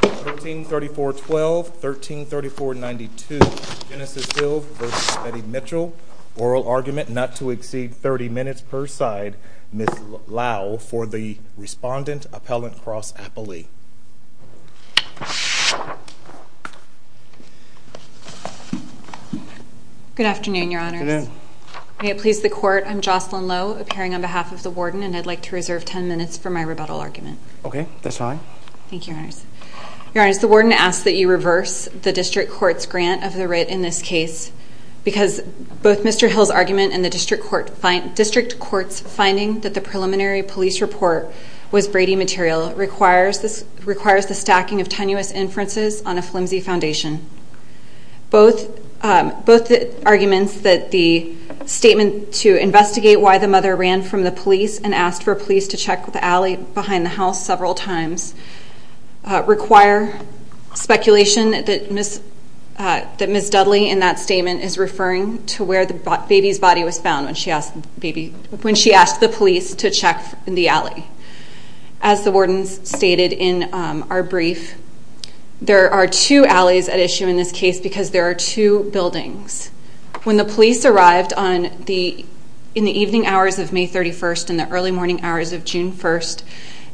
1334.12, 1334.92, Genesis Hill v. Betty Mitchell. Oral argument not to exceed 30 minutes per side, Ms. Lau, for the respondent, Appellant Cross-Appley. Good afternoon, Your Honors. May it please the Court, I'm Jocelyn Lowe, appearing on behalf of the Warden, and I'd like to reserve 10 minutes for my rebuttal argument. Okay, that's fine. Thank you, Your Honors. Your Honors, the Warden asks that you reverse the District Court's grant of the writ in this case, because both Mr. Hill's argument and the District Court's finding that the preliminary police report was Brady material requires the stacking of tenuous inferences on a flimsy foundation. Both arguments that the statement to investigate why the mother ran from the police and asked for police to check the alley behind the house several times require speculation that Ms. Dudley in that statement is referring to where the baby's body was found when she asked the police to check the alley. As the Warden stated in our brief, there are two alleys at issue in this case because there are two buildings. When the police arrived in the evening hours of May 31st and the early morning hours of June 1st,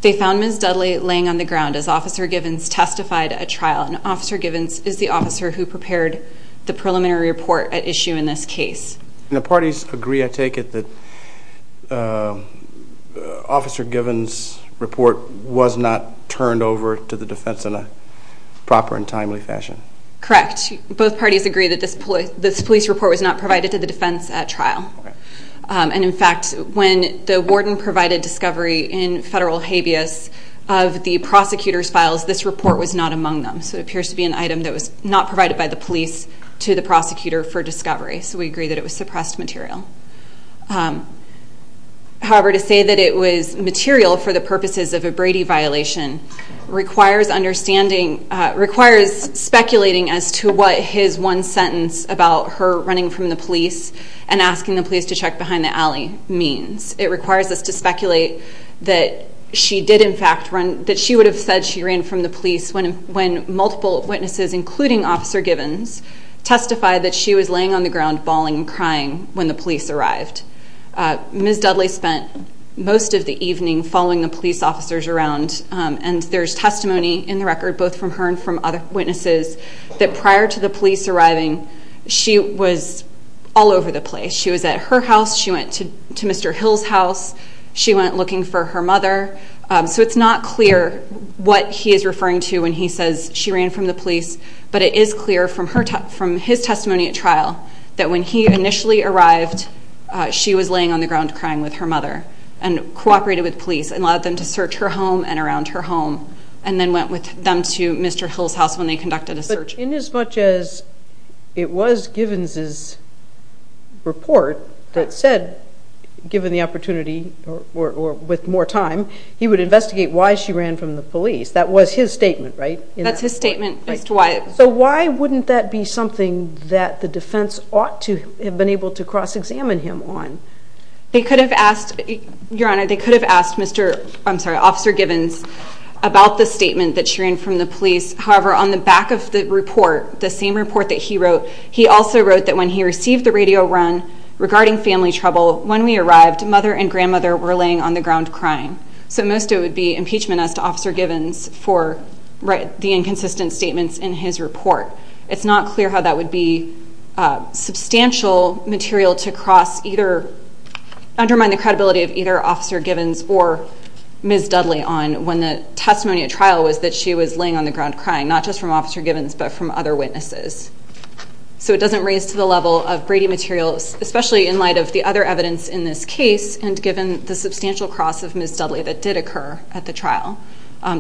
they found Ms. Dudley laying on the ground as Officer Givens testified at trial, and Officer Givens is the officer who prepared the preliminary report at issue in this case. And the parties agree, I take it, that Officer Givens' report was not turned over to the defense in a proper and timely fashion? Correct. Both parties agree that this police report was not provided to the defense at trial. And in fact, when the Warden provided discovery in federal habeas of the prosecutor's files, this report was not among them. So it appears to be an item that was not provided by the police to the prosecutor for discovery. So we agree that it was suppressed material. However, to say that it was material for the purposes of a Brady violation requires speculating as to what his one sentence about her running from the police and asking the police to check behind the alley means. It requires us to speculate that she did in fact run, that she would have said she ran from the police when multiple witnesses, including Officer Givens, testified that she was laying on the ground bawling and crying when the police arrived. Ms. Dudley spent most of the evening following the police officers around, and there's testimony in the record, both from her and from other witnesses, that prior to the police arriving, she was all over the place. She was at her house. She went to Mr. Hill's house. She went looking for her mother. So it's not clear what he is referring to when he says she ran from the police. But it is clear from his testimony at trial that when he initially arrived, she was laying on the ground crying with her mother and cooperated with police and allowed them to search her home and around her home and then went with them to Mr. Hill's house when they conducted a search. In as much as it was Givens's report that said, given the opportunity or with more time, he would investigate why she ran from the police, that was his statement, right? That's his statement as to why. So why wouldn't that be something that the defense ought to have been able to cross-examine him on? They could have asked, Your Honor, they could have asked Officer Givens about the statement that she ran from the police. However, on the back of the report, the same report that he wrote, he also wrote that when he received the radio run regarding family trouble, when we arrived, mother and grandmother were laying on the ground crying. So most of it would be impeachment as to Officer Givens for the inconsistent statements in his report. It's not clear how that would be substantial material to cross either, undermine the credibility of either Officer Givens or Ms. Dudley on when the testimony at trial was that she was laying on the ground crying, not just from Officer Givens but from other witnesses. So it doesn't raise to the level of Brady materials, especially in light of the other evidence in this case and given the substantial cross of Ms. Dudley that did occur at the trial.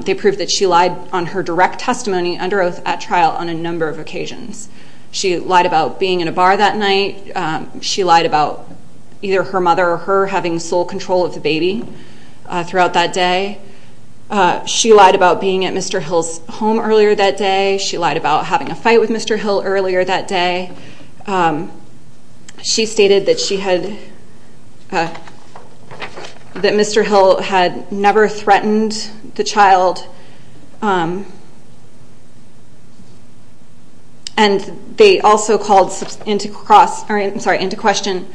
They proved that she lied on her direct testimony under oath at trial on a number of occasions. She lied about being in a bar that night. She lied about either her mother or her having sole control of the baby throughout that day. She lied about being at Mr. Hill's home earlier that day. She lied about having a fight with Mr. Hill earlier that day. She stated that Mr. Hill had never threatened the child and they also called into question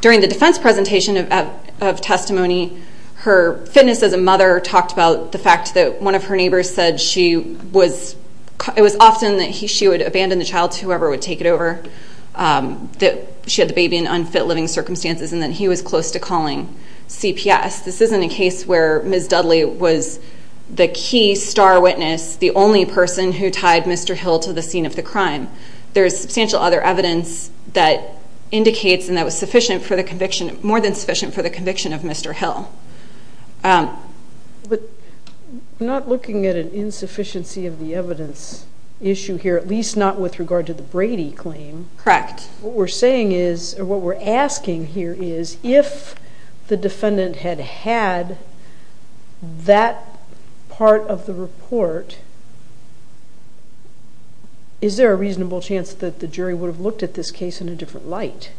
during the defense presentation of testimony, her fitness as a mother talked about the fact that one of her neighbors said it was often that she would abandon the child to whoever would take it over. That she had the baby in unfit living circumstances and that he was close to calling CPS. This isn't a case where Ms. Dudley was the key star witness, the only person who tied Mr. Hill to the scene of the crime. There is substantial other evidence that indicates and that was sufficient for the conviction, more than sufficient for the conviction of Mr. Hill. But not looking at an insufficiency of the evidence issue here, at least not with regard to the Brady claim. Correct. What we're saying is or what we're asking here is if the defendant had had that part of the report, is there a reasonable chance that the jury would have looked at this case in a different light?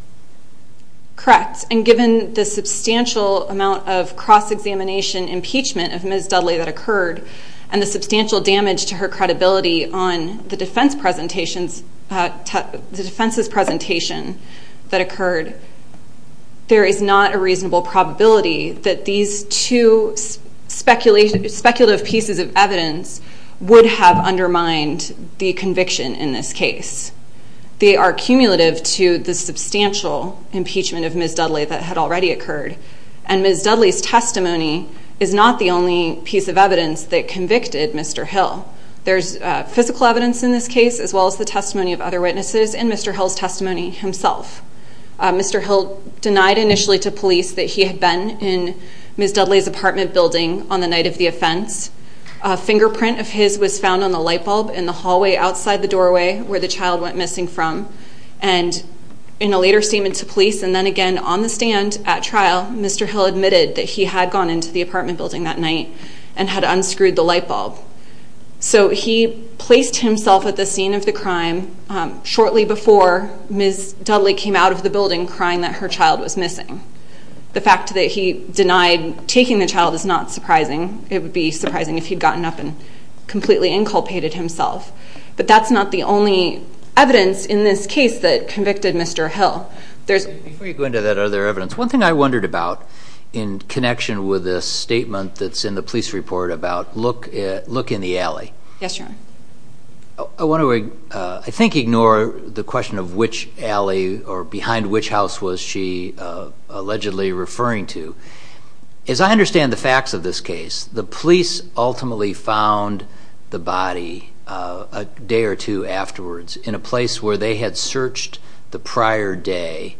Correct. And given the substantial amount of cross-examination impeachment of Ms. Dudley that occurred and the substantial damage to her credibility on the defense's presentation that occurred, there is not a reasonable probability that these two speculative pieces of evidence would have undermined the conviction in this case. They are cumulative to the substantial impeachment of Ms. Dudley that had already occurred. And Ms. Dudley's testimony is not the only piece of evidence that convicted Mr. Hill. There's physical evidence in this case as well as the testimony of other witnesses and Mr. Hill's testimony himself. Mr. Hill denied initially to police that he had been in Ms. Dudley's apartment building on the night of the offense. A fingerprint of his was found on the light bulb in the hallway outside the doorway where the child went missing from. And in a later statement to police and then again on the stand at trial, Mr. Hill admitted that he had gone into the apartment building that night and had unscrewed the light bulb. So he placed himself at the scene of the crime shortly before Ms. Dudley came out of the building crying that her child was missing. The fact that he denied taking the child is not surprising. It would be surprising if he had gotten up and completely inculpated himself. But that's not the only evidence in this case that convicted Mr. Hill. Before you go into that other evidence, one thing I wondered about in connection with a statement that's in the police report about look in the alley. Yes, Your Honor. I want to, I think, ignore the question of which alley or behind which house was she allegedly referring to. As I understand the facts of this case, the police ultimately found the body a day or two afterwards in a place where they had searched the prior day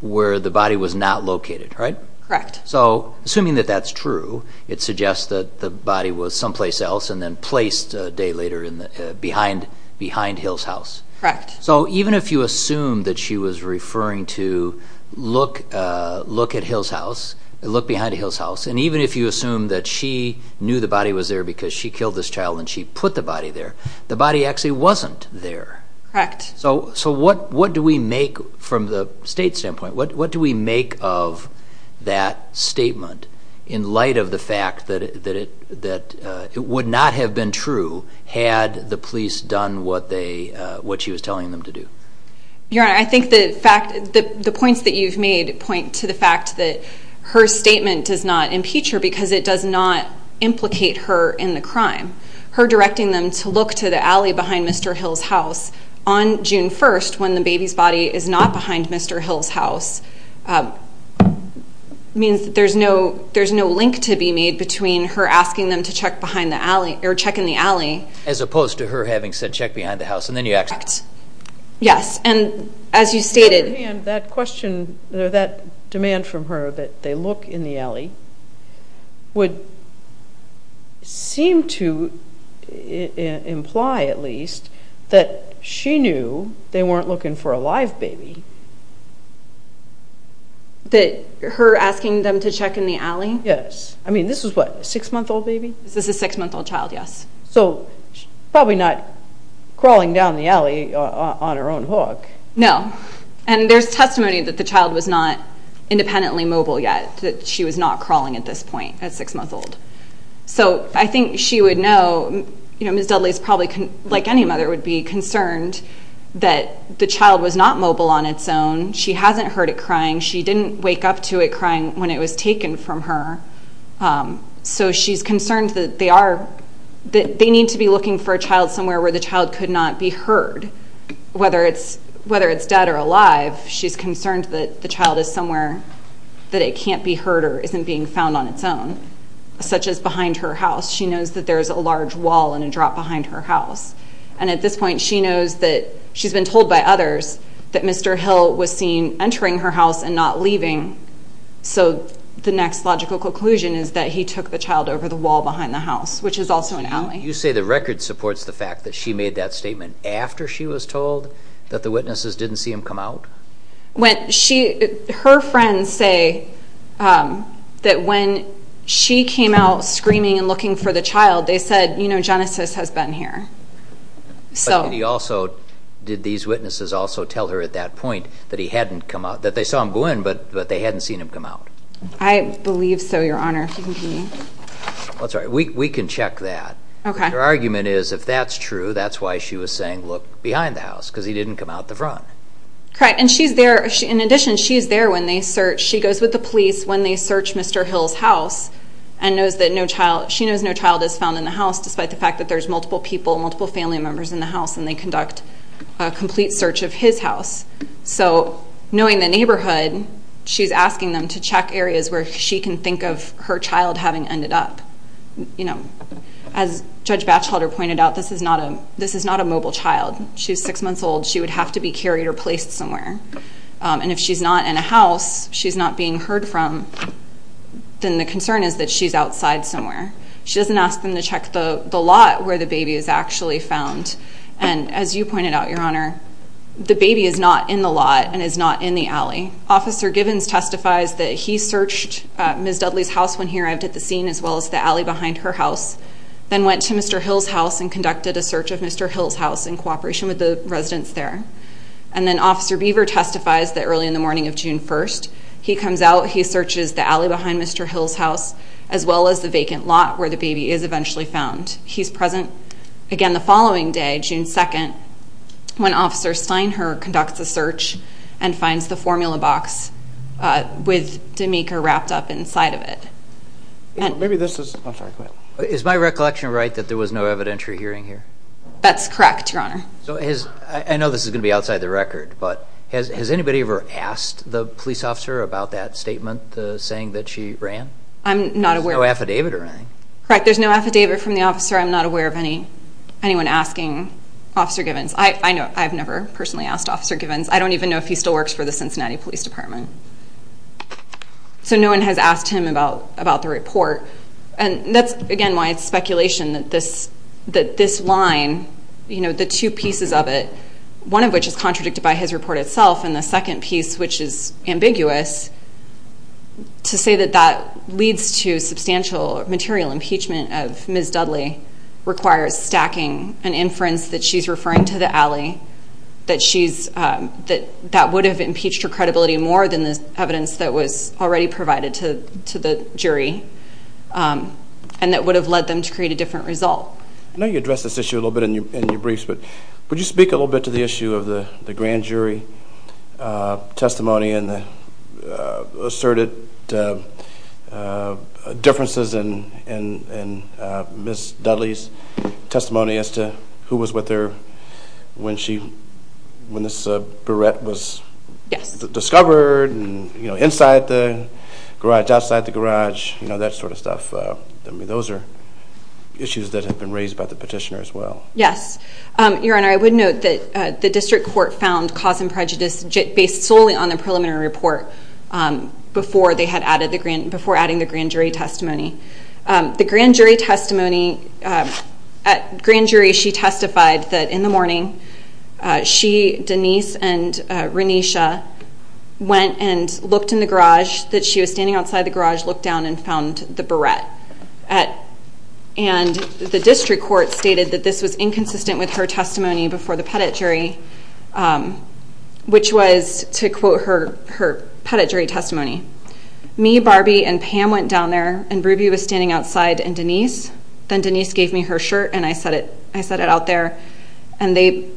where the body was not located, right? Correct. So assuming that that's true, it suggests that the body was someplace else and then placed a day later behind Hill's house. Correct. So even if you assume that she was referring to look at Hill's house, look behind Hill's house, and even if you assume that she knew the body was there because she killed this child and she put the body there, the body actually wasn't there. Correct. So what do we make, from the state standpoint, what do we make of that statement in light of the fact that it would not have been true had the police done what she was telling them to do? Your Honor, I think the points that you've made point to the fact that her statement does not impeach her because it does not implicate her in the crime. Her directing them to look to the alley behind Mr. Hill's house on June 1st when the baby's body is not behind Mr. Hill's house means that there's no link to be made between her asking them to check behind the alley or check in the alley. As opposed to her having said check behind the house and then you actually. Yes, and as you stated. That demand from her that they look in the alley would seem to imply, at least, that she knew they weren't looking for a live baby. That her asking them to check in the alley? Yes. I mean, this was what, a six-month-old baby? This is a six-month-old child, yes. So probably not crawling down the alley on her own hook. No, and there's testimony that the child was not independently mobile yet, that she was not crawling at this point at six months old. So I think she would know, you know, Ms. Dudley's probably, like any mother, would be concerned that the child was not mobile on its own. She hasn't heard it crying. She didn't wake up to it crying when it was taken from her. So she's concerned that they need to be looking for a child somewhere where the child could not be heard, whether it's dead or alive. She's concerned that the child is somewhere that it can't be heard or isn't being found on its own, such as behind her house. She knows that there's a large wall and a drop behind her house. And at this point, she knows that she's been told by others that Mr. Hill was seen entering her house and not leaving. So the next logical conclusion is that he took the child over the wall behind the house, which is also an alley. You say the record supports the fact that she made that statement after she was told that the witnesses didn't see him come out? Her friends say that when she came out screaming and looking for the child, they said, you know, Genesis has been here. Did these witnesses also tell her at that point that they saw him go in, but they hadn't seen him come out? I believe so, Your Honor. We can check that. Her argument is, if that's true, that's why she was saying, look, behind the house, because he didn't come out the front. Correct. And in addition, she's there when they search. When they search Mr. Hill's house, she knows no child is found in the house, despite the fact that there's multiple people, multiple family members in the house, and they conduct a complete search of his house. So knowing the neighborhood, she's asking them to check areas where she can think of her child having ended up. As Judge Batchelder pointed out, this is not a mobile child. She's six months old. She would have to be carried or placed somewhere. And if she's not in a house, she's not being heard from, then the concern is that she's outside somewhere. She doesn't ask them to check the lot where the baby is actually found. And as you pointed out, Your Honor, the baby is not in the lot and is not in the alley. Officer Givens testifies that he searched Ms. Dudley's house when he arrived at the scene, as well as the alley behind her house, then went to Mr. Hill's house and conducted a search of Mr. Hill's house in cooperation with the residents there. And then Officer Beaver testifies that early in the morning of June 1st, he comes out, he searches the alley behind Mr. Hill's house, as well as the vacant lot where the baby is eventually found. He's present again the following day, June 2nd, when Officer Steinhardt conducts a search and finds the formula box with D'Amico wrapped up inside of it. Is my recollection right that there was no evidentiary hearing here? That's correct, Your Honor. I know this is going to be outside the record, but has anybody ever asked the police officer about that statement, the saying that she ran? There's no affidavit or anything. Correct. There's no affidavit from the officer. I'm not aware of anyone asking Officer Givens. I've never personally asked Officer Givens. I don't even know if he still works for the Cincinnati Police Department. So no one has asked him about the report. That's, again, why it's speculation that this line, the two pieces of it, one of which is contradicted by his report itself, and the second piece, which is ambiguous, to say that that leads to substantial material impeachment of Ms. Dudley requires stacking an inference that she's referring to the alley, that that would have impeached her credibility more than the evidence that was already provided to the jury and that would have led them to create a different result. I know you addressed this issue a little bit in your briefs, but would you speak a little bit to the issue of the grand jury testimony and the asserted differences in Ms. Dudley's testimony as to who was with her when this barrette was discovered and inside the garage, outside the garage, that sort of stuff. Those are issues that have been raised by the petitioner as well. Yes. Your Honor, I would note that the district court found cause and prejudice based solely on the preliminary report before adding the grand jury testimony. The grand jury testimony, at grand jury she testified that in the morning she, Denise, and Renisha went and looked in the garage, that she was standing outside the garage, looked down and found the barrette. And the district court stated that this was inconsistent with her testimony before the petit jury, which was to quote her petit jury testimony. Me, Barbie, and Pam went down there and Ruby was standing outside and Denise. Then Denise gave me her shirt and I set it out there and they,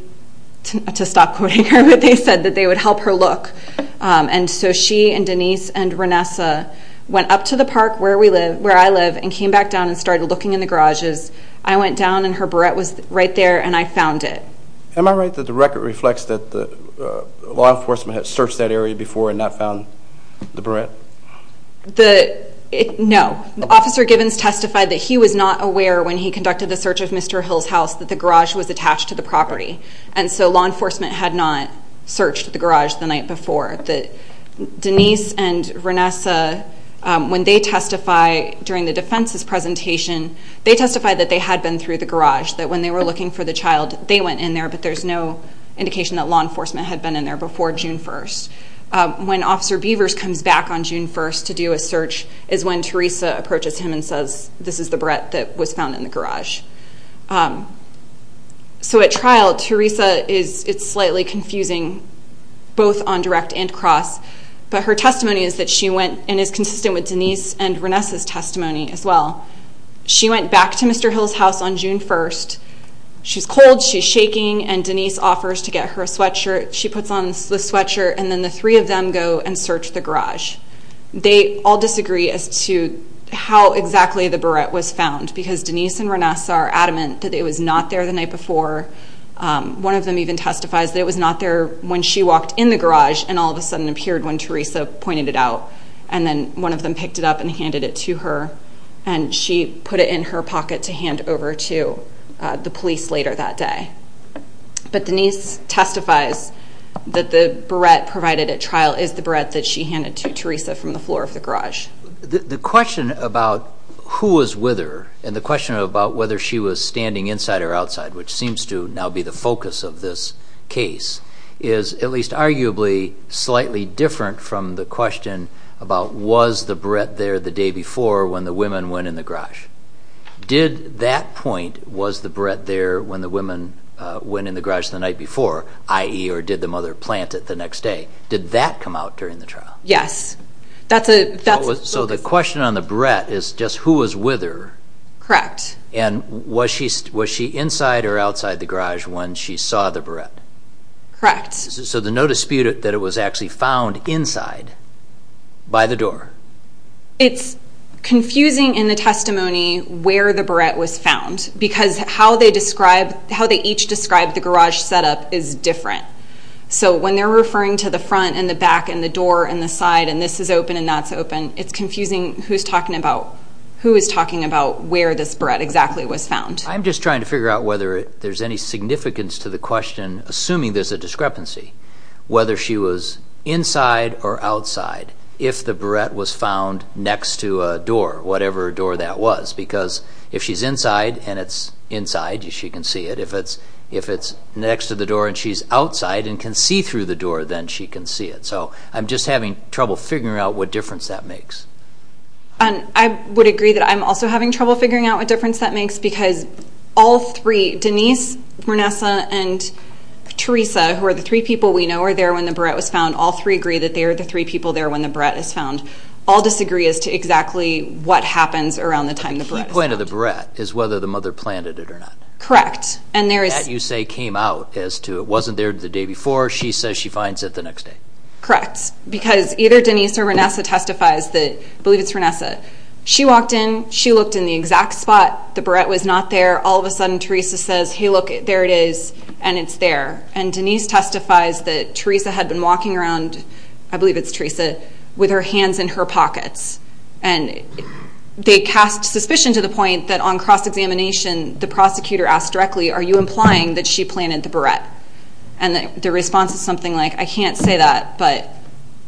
to stop quoting her, but they said that they would help her look. And so she and Denise and Renisha went up to the park where I live and came back down and started looking in the garages. I went down and her barrette was right there and I found it. Am I right that the record reflects that law enforcement had searched that area before and not found the barrette? No. Officer Gibbons testified that he was not aware when he conducted the search of Mr. Hill's house that the garage was attached to the property. And so law enforcement had not searched the garage the night before. Denise and Renisha, when they testify during the defense's presentation, they testified that they had been through the garage, that when they were looking for the child, they went in there, but there's no indication that law enforcement had been in there before June 1st. When Officer Beavers comes back on June 1st to do a search is when Teresa approaches him and says this is the barrette that was found in the garage. So at trial, Teresa is slightly confusing both on direct and cross, but her testimony is that she went and is consistent with Denise and Renisha's testimony as well. She went back to Mr. Hill's house on June 1st. She's cold, she's shaking, and Denise offers to get her sweatshirt. She puts on the sweatshirt and then the three of them go and search the garage. They all disagree as to how exactly the barrette was found because Denise and Renisha are adamant that it was not there the night before. One of them even testifies that it was not there when she walked in the garage and all of a sudden appeared when Teresa pointed it out. And then one of them picked it up and handed it to her, and she put it in her pocket to hand over to the police later that day. But Denise testifies that the barrette provided at trial is the barrette that she handed to Teresa from the floor of the garage. The question about who was with her and the question about whether she was standing inside or outside, which seems to now be the focus of this case, is at least arguably slightly different from the question about was the barrette there the day before when the women went in the garage. Did that point, was the barrette there when the women went in the garage the night before, i.e. or did the mother plant it the next day, did that come out during the trial? Yes. So the question on the barrette is just who was with her. Correct. And was she inside or outside the garage when she saw the barrette? Correct. So there's no dispute that it was actually found inside by the door. It's confusing in the testimony where the barrette was found because how they each describe the garage setup is different. So when they're referring to the front and the back and the door and the side and this is open and that's open, it's confusing who is talking about where this barrette exactly was found. I'm just trying to figure out whether there's any significance to the question, assuming there's a discrepancy, whether she was inside or outside if the barrette was found next to a door, whatever door that was. Because if she's inside and it's inside, she can see it. If it's next to the door and she's outside and can see through the door, then she can see it. So I'm just having trouble figuring out what difference that makes. I would agree that I'm also having trouble figuring out what difference that makes because all three, Denise, Vanessa, and Teresa, who are the three people we know were there when the barrette was found, all three agree that they were the three people there when the barrette was found. All disagree as to exactly what happens around the time the barrette was found. The key point of the barrette is whether the mother planted it or not. Correct. That, you say, came out as to it wasn't there the day before. Or she says she finds it the next day. Correct. Because either Denise or Vanessa testifies that, I believe it's Vanessa, she walked in, she looked in the exact spot, the barrette was not there. All of a sudden Teresa says, hey, look, there it is, and it's there. And Denise testifies that Teresa had been walking around, I believe it's Teresa, with her hands in her pockets. And they cast suspicion to the point that on cross-examination the prosecutor asked directly, are you implying that she planted the barrette? And the response is something like, I can't say that, but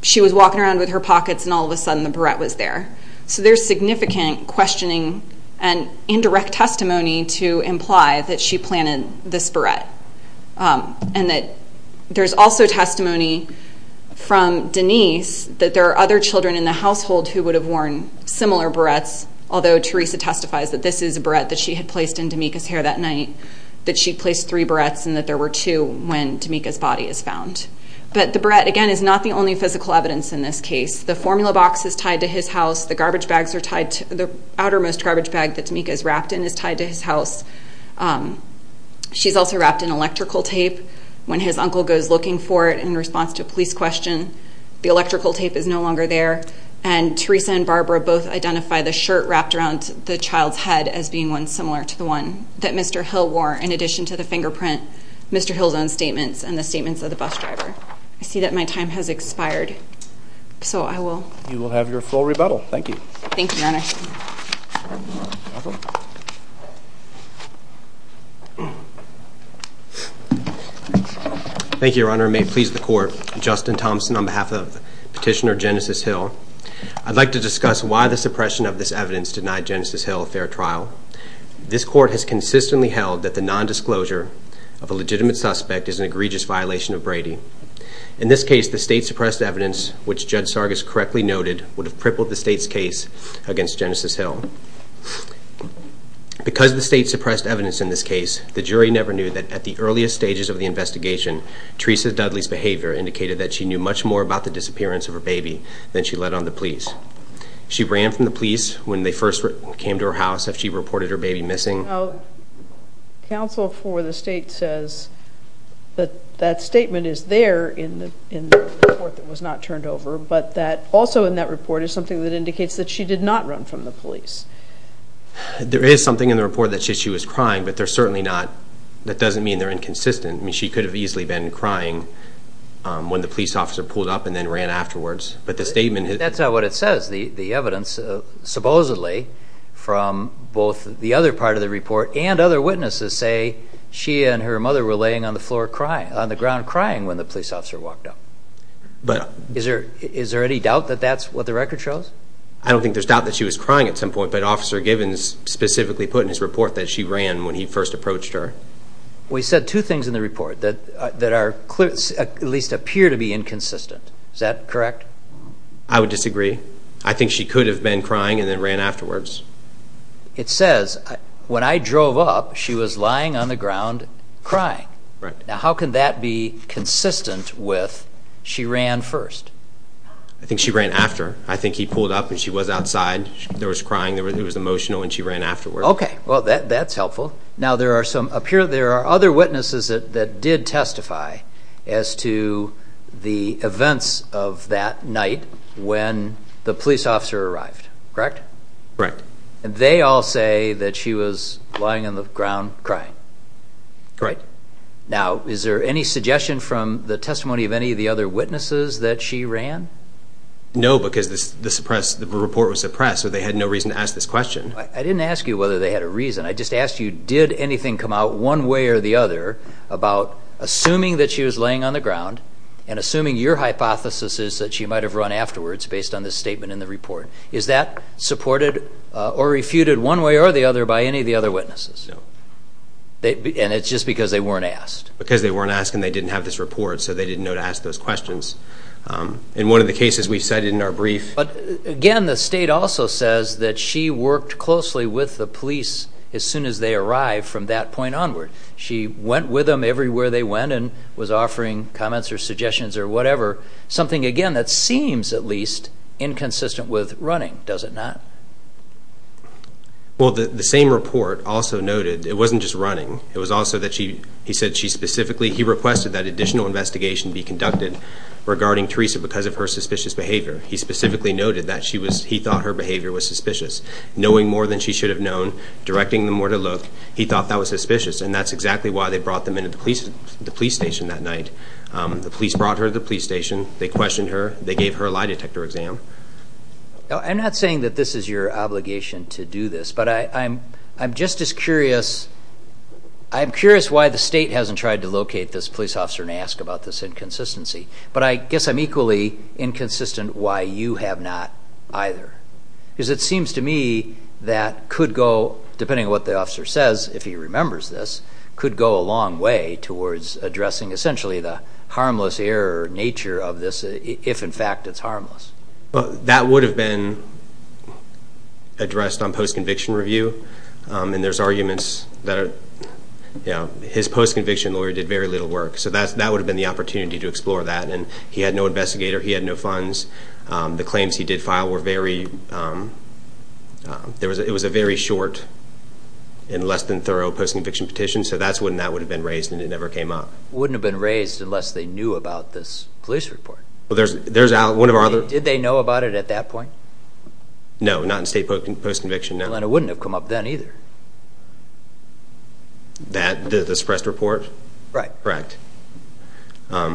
she was walking around with her pockets and all of a sudden the barrette was there. So there's significant questioning and indirect testimony to imply that she planted this barrette. And that there's also testimony from Denise that there are other children in the household who would have worn similar barrettes, although Teresa testifies that this is a barrette that she had placed in Damika's hair that night, that she placed three barrettes and that there were two when Damika's body is found. But the barrette, again, is not the only physical evidence in this case. The formula box is tied to his house, the outermost garbage bag that Damika is wrapped in is tied to his house. She's also wrapped in electrical tape. When his uncle goes looking for it in response to a police question, the electrical tape is no longer there. And Teresa and Barbara both identify the shirt wrapped around the child's head as being one similar to the one that Mr. Hill wore in addition to the fingerprint, Mr. Hill's own statements, and the statements of the bus driver. I see that my time has expired, so I will. You will have your full rebuttal. Thank you. Thank you, Your Honor. Thank you, Your Honor. May it please the Court, Justin Thompson on behalf of Petitioner Genesis Hill. I'd like to discuss why the suppression of this evidence denied Genesis Hill a fair trial. This Court has consistently held that the nondisclosure of a legitimate suspect is an egregious violation of Brady. In this case, the state-suppressed evidence, which Judge Sargas correctly noted, would have crippled the state's case against Genesis Hill. Because of the state-suppressed evidence in this case, the jury never knew that at the earliest stages of the investigation, Teresa Dudley's behavior indicated that she knew much more about the disappearance of her baby than she let on the police. She ran from the police when they first came to her house after she reported her baby missing. Counsel for the state says that that statement is there in the report that was not turned over, but that also in that report is something that indicates that she did not run from the police. There is something in the report that says she was crying, but they're certainly not. That doesn't mean they're inconsistent. I mean, she could have easily been crying when the police officer pulled up and then ran afterwards. But the statement— That's not what it says. The evidence, supposedly, from both the other part of the report and other witnesses say she and her mother were laying on the ground crying when the police officer walked up. Is there any doubt that that's what the record shows? I don't think there's doubt that she was crying at some point, but Officer Givens specifically put in his report that she ran when he first approached her. We said two things in the report that at least appear to be inconsistent. Is that correct? I would disagree. I think she could have been crying and then ran afterwards. It says, when I drove up, she was lying on the ground crying. Right. Now, how can that be consistent with she ran first? I think she ran after. I think he pulled up and she was outside. There was crying. It was emotional, and she ran afterwards. Okay. Well, that's helpful. Now, there are other witnesses that did testify as to the events of that night when the police officer arrived, correct? Correct. And they all say that she was lying on the ground crying? Correct. Now, is there any suggestion from the testimony of any of the other witnesses that she ran? No, because the report was suppressed, so they had no reason to ask this question. I didn't ask you whether they had a reason. I just asked you, did anything come out one way or the other about assuming that she was laying on the ground and assuming your hypothesis is that she might have run afterwards based on this statement in the report? Is that supported or refuted one way or the other by any of the other witnesses? No. And it's just because they weren't asked? Because they weren't asked and they didn't have this report, so they didn't know to ask those questions. In one of the cases we cited in our brief. But, again, the state also says that she worked closely with the police as soon as they arrived from that point onward. She went with them everywhere they went and was offering comments or suggestions or whatever, something, again, that seems at least inconsistent with running, does it not? Well, the same report also noted it wasn't just running. It was also that she specifically requested that additional investigation be conducted regarding Teresa because of her suspicious behavior. He specifically noted that he thought her behavior was suspicious. Knowing more than she should have known, directing them more to look, he thought that was suspicious, and that's exactly why they brought them into the police station that night. The police brought her to the police station. They questioned her. They gave her a lie detector exam. I'm not saying that this is your obligation to do this, but I'm just as curious. I'm curious why the state hasn't tried to locate this police officer and ask about this inconsistency. But I guess I'm equally inconsistent why you have not either because it seems to me that could go, depending on what the officer says, if he remembers this, could go a long way towards addressing essentially the harmless error nature of this if, in fact, it's harmless. Well, that would have been addressed on post-conviction review, and there's arguments that his post-conviction lawyer did very little work. So that would have been the opportunity to explore that. And he had no investigator. He had no funds. The claims he did file were very – it was a very short and less than thorough post-conviction petition, so that's when that would have been raised and it never came up. It wouldn't have been raised unless they knew about this police report. Well, there's – one of our other – Did they know about it at that point? No, not in state post-conviction. And it wouldn't have come up then either. That – the suppressed report? Right. Correct. All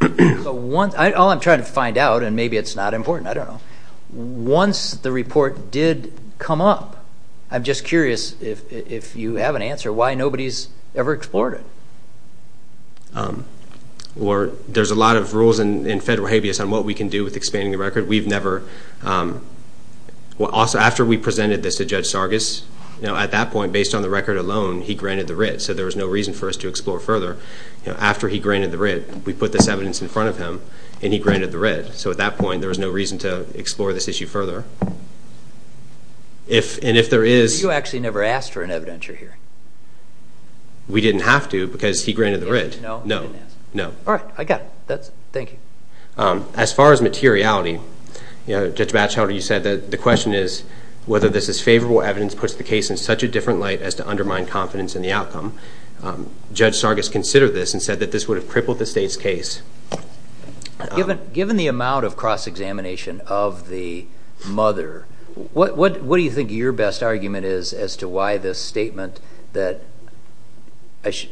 I'm trying to find out, and maybe it's not important, I don't know, once the report did come up, I'm just curious if you have an answer why nobody's ever explored it. There's a lot of rules in federal habeas on what we can do with expanding the record. We've never – after we presented this to Judge Sargas, at that point, based on the record alone, he granted the writ, so there was no reason for us to explore further. After he granted the writ, we put this evidence in front of him, and he granted the writ. So at that point, there was no reason to explore this issue further. And if there is – You actually never asked for an evidentiary hearing. We didn't have to because he granted the writ. No? No. All right. I got it. Thank you. As far as materiality, Judge Batchelder, you said that the question is whether this is favorable evidence puts the case in such a different light as to undermine confidence in the outcome. Judge Sargas considered this and said that this would have crippled the state's case. Given the amount of cross-examination of the mother, what do you think your best argument is as to why this statement that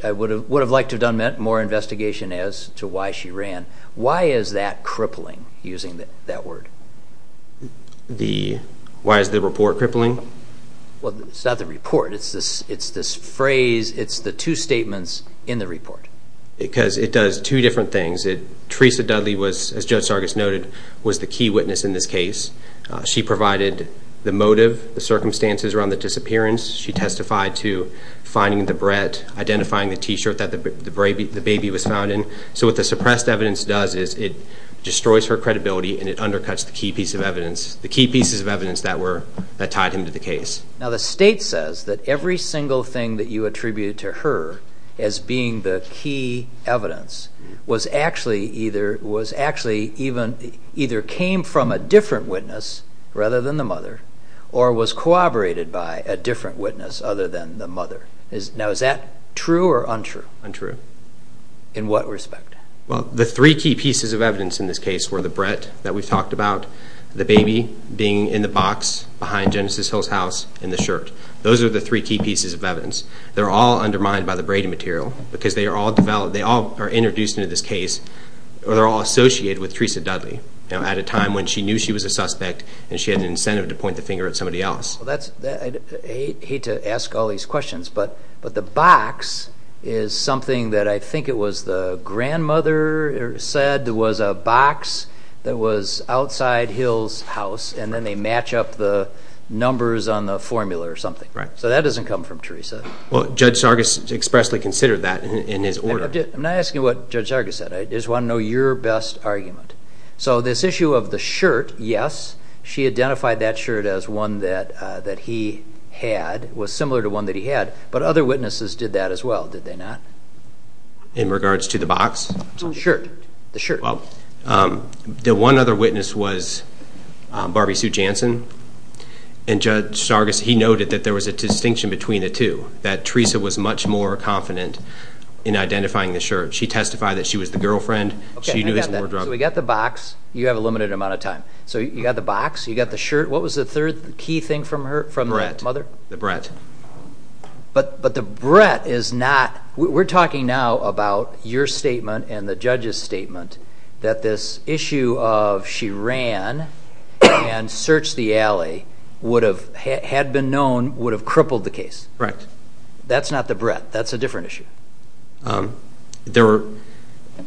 I would have liked to have done meant more investigation as to why she ran? Why is that crippling, using that word? Why is the report crippling? Well, it's not the report. It's this phrase. It's the two statements in the report. Because it does two different things. Teresa Dudley was, as Judge Sargas noted, was the key witness in this case. She provided the motive, the circumstances around the disappearance. She testified to finding the bread, identifying the T-shirt that the baby was found in. So what the suppressed evidence does is it destroys her credibility and it undercuts the key pieces of evidence that tied him to the case. Now, the state says that every single thing that you attributed to her as being the key evidence was actually either came from a different witness rather than the mother or was corroborated by a different witness other than the mother. Now, is that true or untrue? Untrue. In what respect? Well, the three key pieces of evidence in this case were the bread that we've talked about, the baby being in the box behind Genesis Hill's house, and the shirt. Those are the three key pieces of evidence. They're all undermined by the braiding material because they all are introduced into this case or they're all associated with Teresa Dudley at a time when she knew she was a suspect and she had an incentive to point the finger at somebody else. I hate to ask all these questions, but the box is something that I think it was the grandmother said was a box that was outside Hill's house, and then they match up the numbers on the formula or something. Right. So that doesn't come from Teresa. Well, Judge Sargas expressly considered that in his order. I'm not asking what Judge Sargas said. I just want to know your best argument. So this issue of the shirt, yes, she identified that shirt as one that he had, was similar to one that he had, but other witnesses did that as well, did they not? In regards to the box? The shirt. The shirt. Well, the one other witness was Barbie Sue Jansen, and Judge Sargas, he noted that there was a distinction between the two, that Teresa was much more confident in identifying the shirt. She testified that she was the girlfriend. She knew he was more drugged. So we got the box. You have a limited amount of time. So you got the box. You got the shirt. What was the third key thing from the mother? The Brett. The Brett. But the Brett is not we're talking now about your statement and the judge's statement that this issue of she ran and searched the alley had been known would have crippled the case. Correct. That's not the Brett. That's a different issue.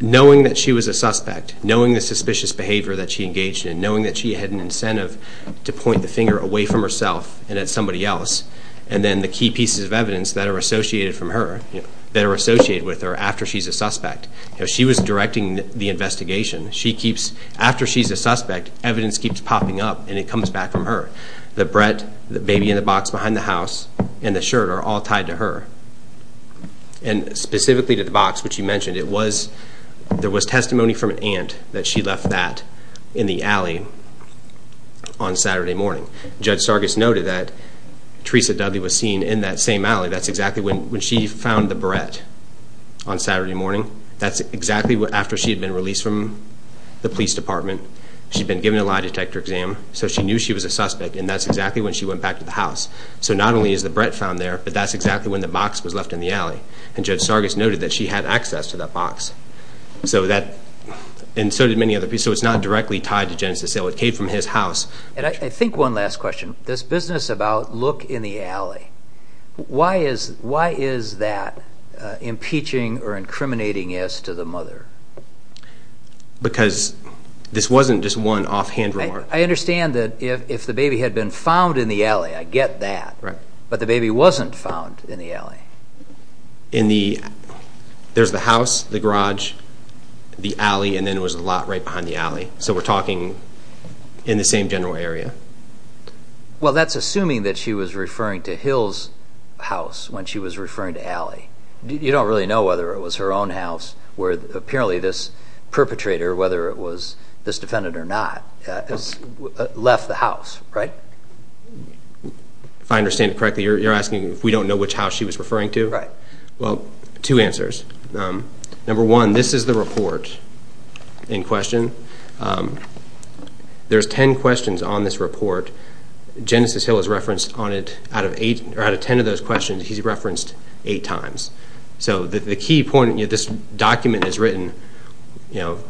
Knowing that she was a suspect, knowing the suspicious behavior that she engaged in, knowing that she had an incentive to point the finger away from herself and at somebody else, and then the key pieces of evidence that are associated with her after she's a suspect. She was directing the investigation. After she's a suspect, evidence keeps popping up, and it comes back from her. The Brett, the baby in the box behind the house, and the shirt are all tied to her. And specifically to the box, which you mentioned, there was testimony from an aunt that she left that in the alley on Saturday morning. Judge Sargis noted that Teresa Dudley was seen in that same alley. That's exactly when she found the Brett on Saturday morning. That's exactly after she had been released from the police department. She'd been given a lie detector exam, so she knew she was a suspect, and that's exactly when she went back to the house. So not only is the Brett found there, but that's exactly when the box was left in the alley. And Judge Sargis noted that she had access to that box, and so did many other people. So it's not directly tied to Genesis Sale. It came from his house. And I think one last question. This business about look in the alley, why is that impeaching or incriminating as to the mother? Because this wasn't just one offhand remark. I understand that if the baby had been found in the alley, I get that, but the baby wasn't found in the alley. There's the house, the garage, the alley, and then there was a lot right behind the alley. So we're talking in the same general area. Well, that's assuming that she was referring to Hill's house when she was referring to alley. You don't really know whether it was her own house where apparently this perpetrator, whether it was this defendant or not, left the house, right? If I understand it correctly, you're asking if we don't know which house she was referring to? Right. Well, two answers. Number one, this is the report in question. There's ten questions on this report. Genesis Hill has referenced on it, out of ten of those questions, he's referenced eight times. So the key point, this document is written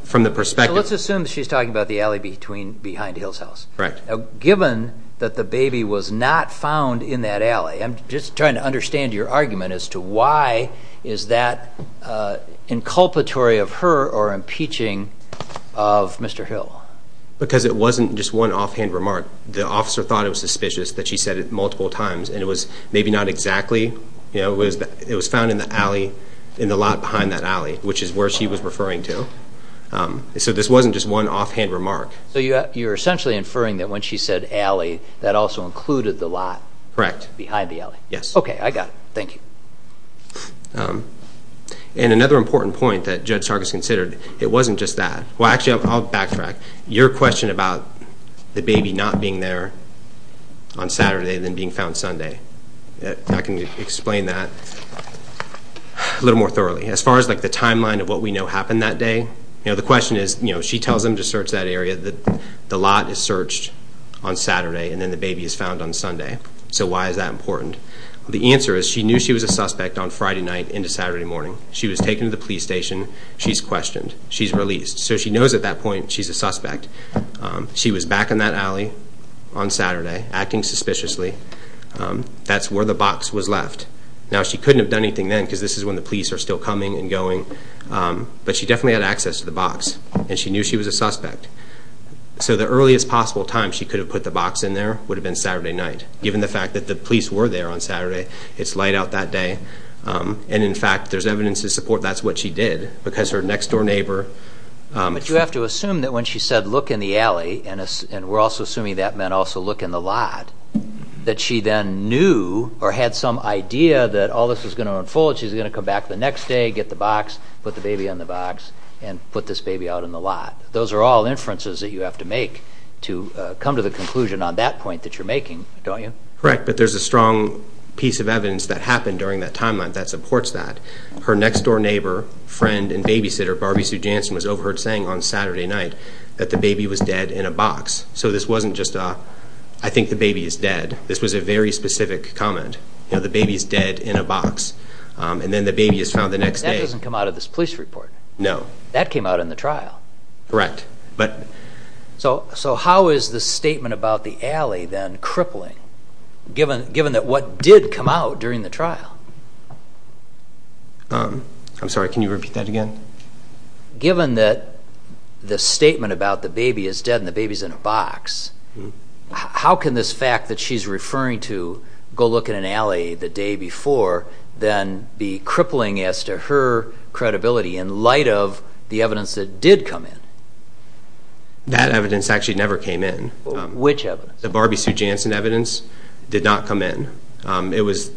from the perspective. So let's assume she's talking about the alley behind Hill's house. Right. Now, given that the baby was not found in that alley, I'm just trying to understand your argument as to why is that inculpatory of her or impeaching of Mr. Hill. Because it wasn't just one offhand remark. The officer thought it was suspicious that she said it multiple times, and it was maybe not exactly. It was found in the alley, in the lot behind that alley, which is where she was referring to. So this wasn't just one offhand remark. So you're essentially inferring that when she said alley, that also included the lot. Correct. Behind the alley. Yes. Okay, I got it. Thank you. And another important point that Judge Sarkis considered, it wasn't just that. Well, actually, I'll backtrack. Your question about the baby not being there on Saturday and then being found Sunday, I can explain that a little more thoroughly. As far as the timeline of what we know happened that day, the question is she tells him to search that area. The lot is searched on Saturday, and then the baby is found on Sunday. So why is that important? The answer is she knew she was a suspect on Friday night into Saturday morning. She was taken to the police station. She's questioned. She's released. So she knows at that point she's a suspect. She was back in that alley on Saturday, acting suspiciously. That's where the box was left. Now, she couldn't have done anything then because this is when the police are still coming and going. But she definitely had access to the box, and she knew she was a suspect. So the earliest possible time she could have put the box in there would have been Saturday night. Given the fact that the police were there on Saturday, it's light out that day. And, in fact, there's evidence to support that's what she did because her next-door neighbor. But you have to assume that when she said, look in the alley, and we're also assuming that meant also look in the lot, that she then knew or had some idea that all this was going to unfold. She's going to come back the next day, get the box, put the baby in the box, and put this baby out in the lot. Those are all inferences that you have to make to come to the conclusion on that point that you're making, don't you? Correct, but there's a strong piece of evidence that happened during that timeline that supports that. Her next-door neighbor, friend, and babysitter, Barbie Sue Jansen, was overheard saying on Saturday night that the baby was dead in a box. So this wasn't just a, I think the baby is dead. This was a very specific comment. The baby is dead in a box. And then the baby is found the next day. That doesn't come out of this police report. No. That came out in the trial. Correct. So how is the statement about the alley then crippling, given that what did come out during the trial? I'm sorry, can you repeat that again? Given that the statement about the baby is dead and the baby is in a box, how can this fact that she's referring to go look in an alley the day before then be crippling as to her credibility in light of the evidence that did come in? That evidence actually never came in. Which evidence? The Barbie Sue Jansen evidence did not come in. It was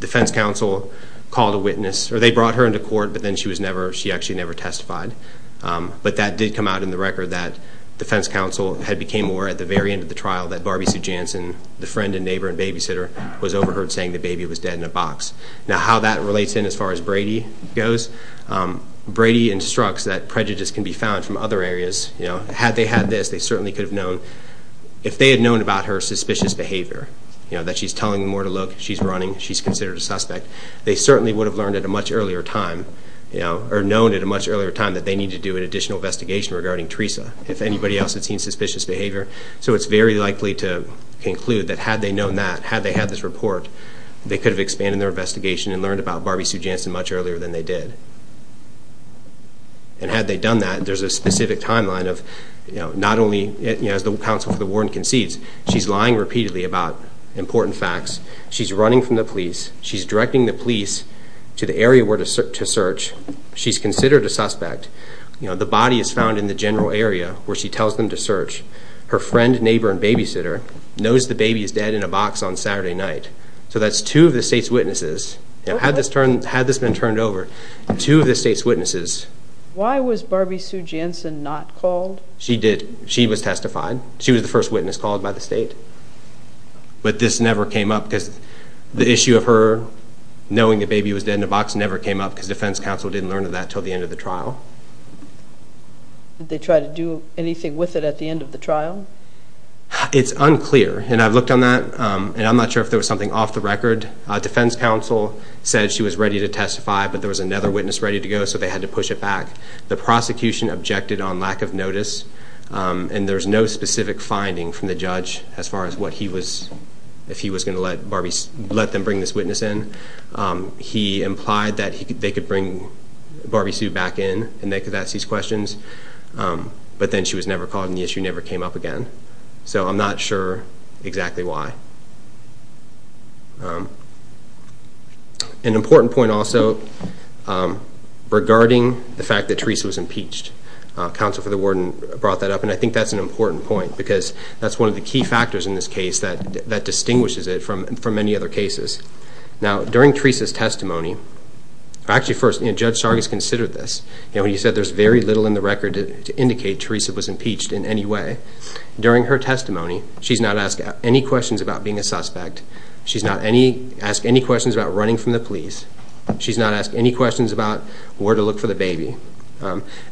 defense counsel called a witness, or they brought her into court, but then she actually never testified. But that did come out in the record that defense counsel had became aware at the very end of the trial that Barbie Sue Jansen, the friend and neighbor and babysitter, was overheard saying the baby was dead in a box. Now how that relates in as far as Brady goes, Brady instructs that prejudice can be found from other areas. Had they had this, they certainly could have known. If they had known about her suspicious behavior, that she's telling them where to look, she's running, she's considered a suspect, they certainly would have learned at a much earlier time that they need to do an additional investigation regarding Teresa if anybody else had seen suspicious behavior. So it's very likely to conclude that had they known that, had they had this report, they could have expanded their investigation and learned about Barbie Sue Jansen much earlier than they did. And had they done that, there's a specific timeline of not only, as the counsel for the warden concedes, she's lying repeatedly about important facts, she's running from the police, she's directing the police to the area where to search, she's considered a suspect. The body is found in the general area where she tells them to search. Her friend, neighbor, and babysitter knows the baby is dead in a box on Saturday night. So that's two of the state's witnesses. Had this been turned over, two of the state's witnesses. Why was Barbie Sue Jansen not called? She was testified. She was the first witness called by the state. But this never came up because the issue of her knowing the baby was dead in a box never came up because defense counsel didn't learn of that until the end of the trial. Did they try to do anything with it at the end of the trial? It's unclear, and I've looked on that, and I'm not sure if there was something off the record. Defense counsel said she was ready to testify, but there was another witness ready to go, so they had to push it back. The prosecution objected on lack of notice, and there's no specific finding from the judge as far as what he was if he was going to let them bring this witness in. He implied that they could bring Barbie Sue back in and they could ask these questions, but then she was never called and the issue never came up again. So I'm not sure exactly why. An important point also regarding the fact that Teresa was impeached. Counsel for the warden brought that up, and I think that's an important point because that's one of the key factors in this case that distinguishes it from many other cases. Now, during Teresa's testimony, actually first, Judge Sargas considered this. He said there's very little in the record to indicate Teresa was impeached in any way. During her testimony, she's not asked any questions about being a suspect. She's not asked any questions about running from the police. She's not asked any questions about where to look for the baby.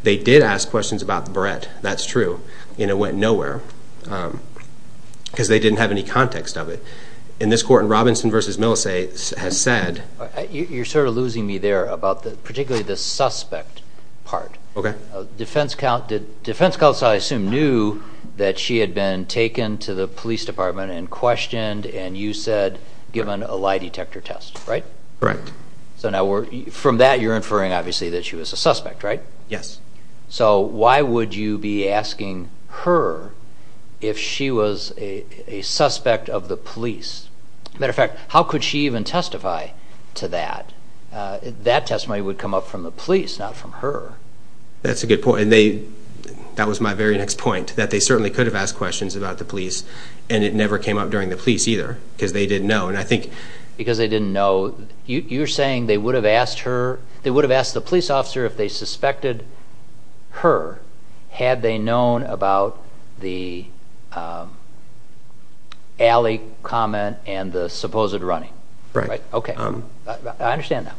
They did ask questions about Brett, that's true, and it went nowhere because they didn't have any context of it. In this court, in Robinson v. Millisay, has said— You're sort of losing me there about particularly the suspect part. Defense counsel, I assume, knew that she had been taken to the police department and questioned and you said given a lie detector test, right? Correct. So now from that you're inferring obviously that she was a suspect, right? Yes. So why would you be asking her if she was a suspect of the police? Matter of fact, how could she even testify to that? That testimony would come up from the police, not from her. That's a good point. That was my very next point, that they certainly could have asked questions about the police and it never came up during the police either because they didn't know. Because they didn't know. You're saying they would have asked the police officer if they suspected her had they known about the alley comment and the supposed running. Right. I understand that.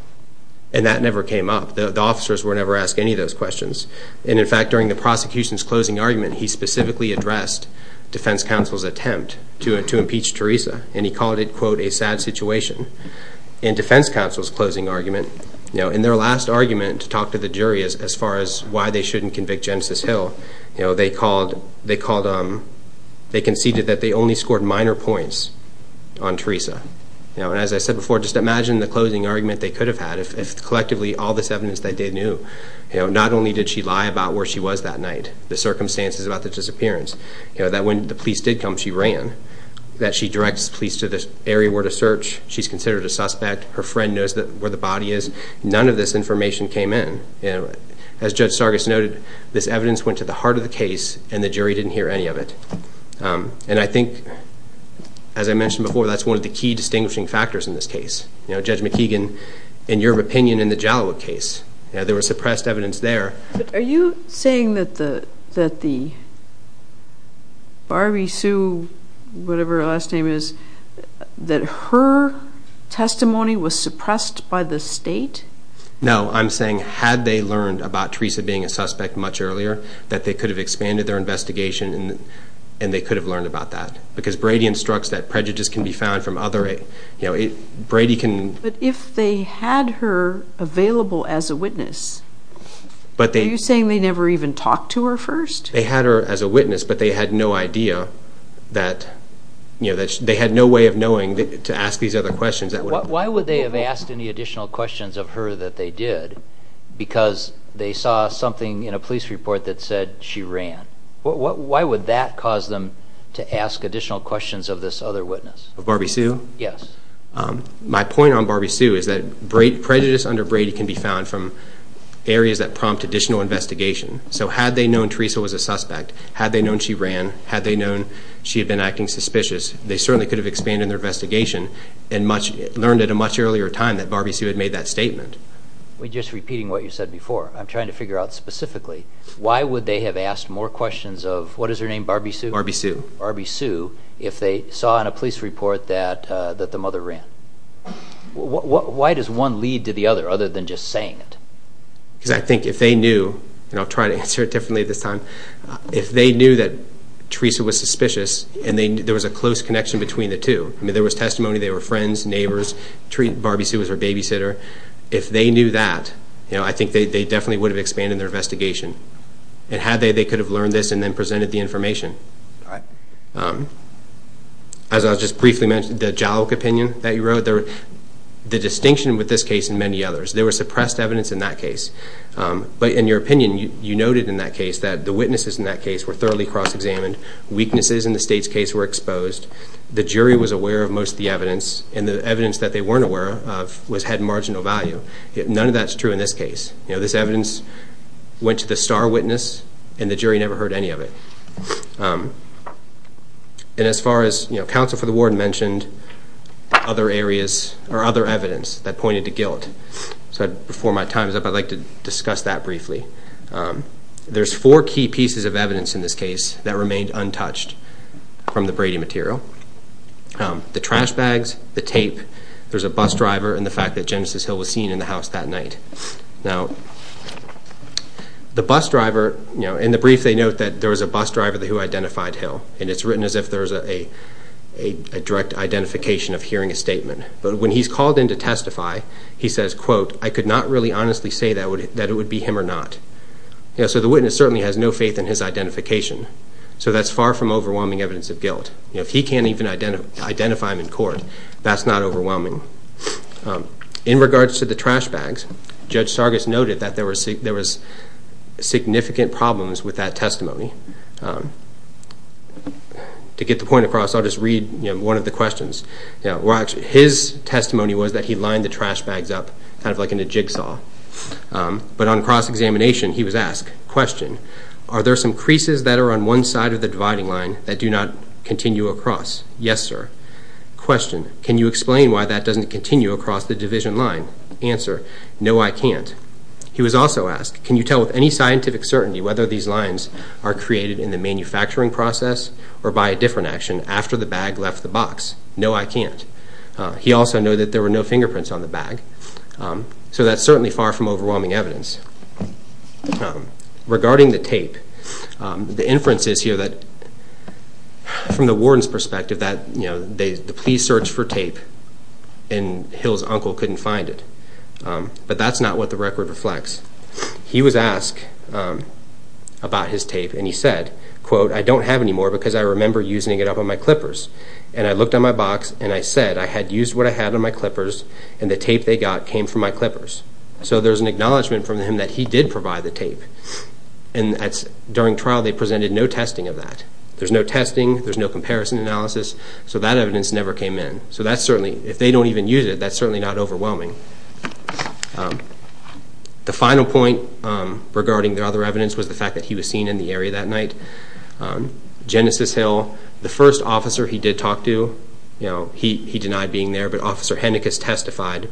And that never came up. The officers would never ask any of those questions. In fact, during the prosecution's closing argument, he specifically addressed defense counsel's attempt to impeach Teresa and he called it, quote, a sad situation. In defense counsel's closing argument, in their last argument to talk to the jury as far as why they shouldn't convict Genesis Hill, they conceded that they only scored minor points on Teresa. As I said before, just imagine the closing argument they could have had if collectively all this evidence they did knew. Not only did she lie about where she was that night, the circumstances about the disappearance, that when the police did come, she ran, that she directs police to the area where to search, she's considered a suspect, her friend knows where the body is. None of this information came in. As Judge Sargas noted, this evidence went to the heart of the case and the jury didn't hear any of it. I think, as I mentioned before, that's one of the key distinguishing factors in this case. Judge McKeegan, in your opinion, in the Jalowit case, there was suppressed evidence there. Are you saying that the Barbie Sue, whatever her last name is, that her testimony was suppressed by the state? No, I'm saying had they learned about Teresa being a suspect much earlier, that they could have expanded their investigation and they could have learned about that. Because Brady instructs that prejudice can be found from other… But if they had her available as a witness, are you saying they never even talked to her first? They had her as a witness, but they had no idea that… they had no way of knowing to ask these other questions. Why would they have asked any additional questions of her that they did? Because they saw something in a police report that said she ran. Why would that cause them to ask additional questions of this other witness? Of Barbie Sue? Yes. My point on Barbie Sue is that prejudice under Brady can be found from areas that prompt additional investigation. So had they known Teresa was a suspect, had they known she ran, had they known she had been acting suspicious, they certainly could have expanded their investigation and learned at a much earlier time that Barbie Sue had made that statement. Just repeating what you said before, I'm trying to figure out specifically, why would they have asked more questions of, what is her name, Barbie Sue? Barbie Sue. Barbie Sue, if they saw in a police report that the mother ran. Why does one lead to the other, other than just saying it? Because I think if they knew, and I'll try to answer it differently this time, if they knew that Teresa was suspicious and there was a close connection between the two, I mean, there was testimony, they were friends, neighbors, treat Barbie Sue as her babysitter. If they knew that, I think they definitely would have expanded their investigation. And had they, they could have learned this and then presented the information. All right. As I was just briefly mentioning, the Jalouk opinion that you wrote, the distinction with this case and many others, there was suppressed evidence in that case. But in your opinion, you noted in that case that the witnesses in that case were thoroughly cross-examined, weaknesses in the state's case were exposed, the jury was aware of most of the evidence, and the evidence that they weren't aware of was had marginal value. None of that's true in this case. You know, this evidence went to the star witness, and the jury never heard any of it. And as far as, you know, counsel for the warden mentioned other areas, or other evidence that pointed to guilt. So before my time's up, I'd like to discuss that briefly. There's four key pieces of evidence in this case that remained untouched from the Brady material. The trash bags, the tape, there's a bus driver, and the fact that Genesis Hill was seen in the house that night. Now, the bus driver, you know, in the brief they note that there was a bus driver who identified Hill, and it's written as if there's a direct identification of hearing a statement. But when he's called in to testify, he says, quote, I could not really honestly say that it would be him or not. So the witness certainly has no faith in his identification. So that's far from overwhelming evidence of guilt. You know, if he can't even identify him in court, that's not overwhelming. In regards to the trash bags, Judge Sargas noted that there was significant problems with that testimony. To get the point across, I'll just read, you know, one of the questions. His testimony was that he lined the trash bags up, kind of like in a jigsaw. But on cross-examination, he was asked, question, are there some creases that are on one side of the dividing line that do not continue across? Yes, sir. Question, can you explain why that doesn't continue across the division line? Answer, no, I can't. He was also asked, can you tell with any scientific certainty whether these lines are created in the manufacturing process or by a different action after the bag left the box? No, I can't. He also noted that there were no fingerprints on the bag. So that's certainly far from overwhelming evidence. Regarding the tape, the inference is here that from the warden's perspective that the police searched for tape and Hill's uncle couldn't find it. But that's not what the record reflects. He was asked about his tape, and he said, quote, I don't have any more because I remember using it up on my clippers. And I looked on my box and I said I had used what I had on my clippers and the tape they got came from my clippers. So there's an acknowledgment from him that he did provide the tape. And during trial they presented no testing of that. There's no testing. There's no comparison analysis. So that evidence never came in. So that's certainly, if they don't even use it, that's certainly not overwhelming. The final point regarding the other evidence was the fact that he was seen in the area that night. Genesis Hill, the first officer he did talk to, he denied being there, but Officer Hennekes testified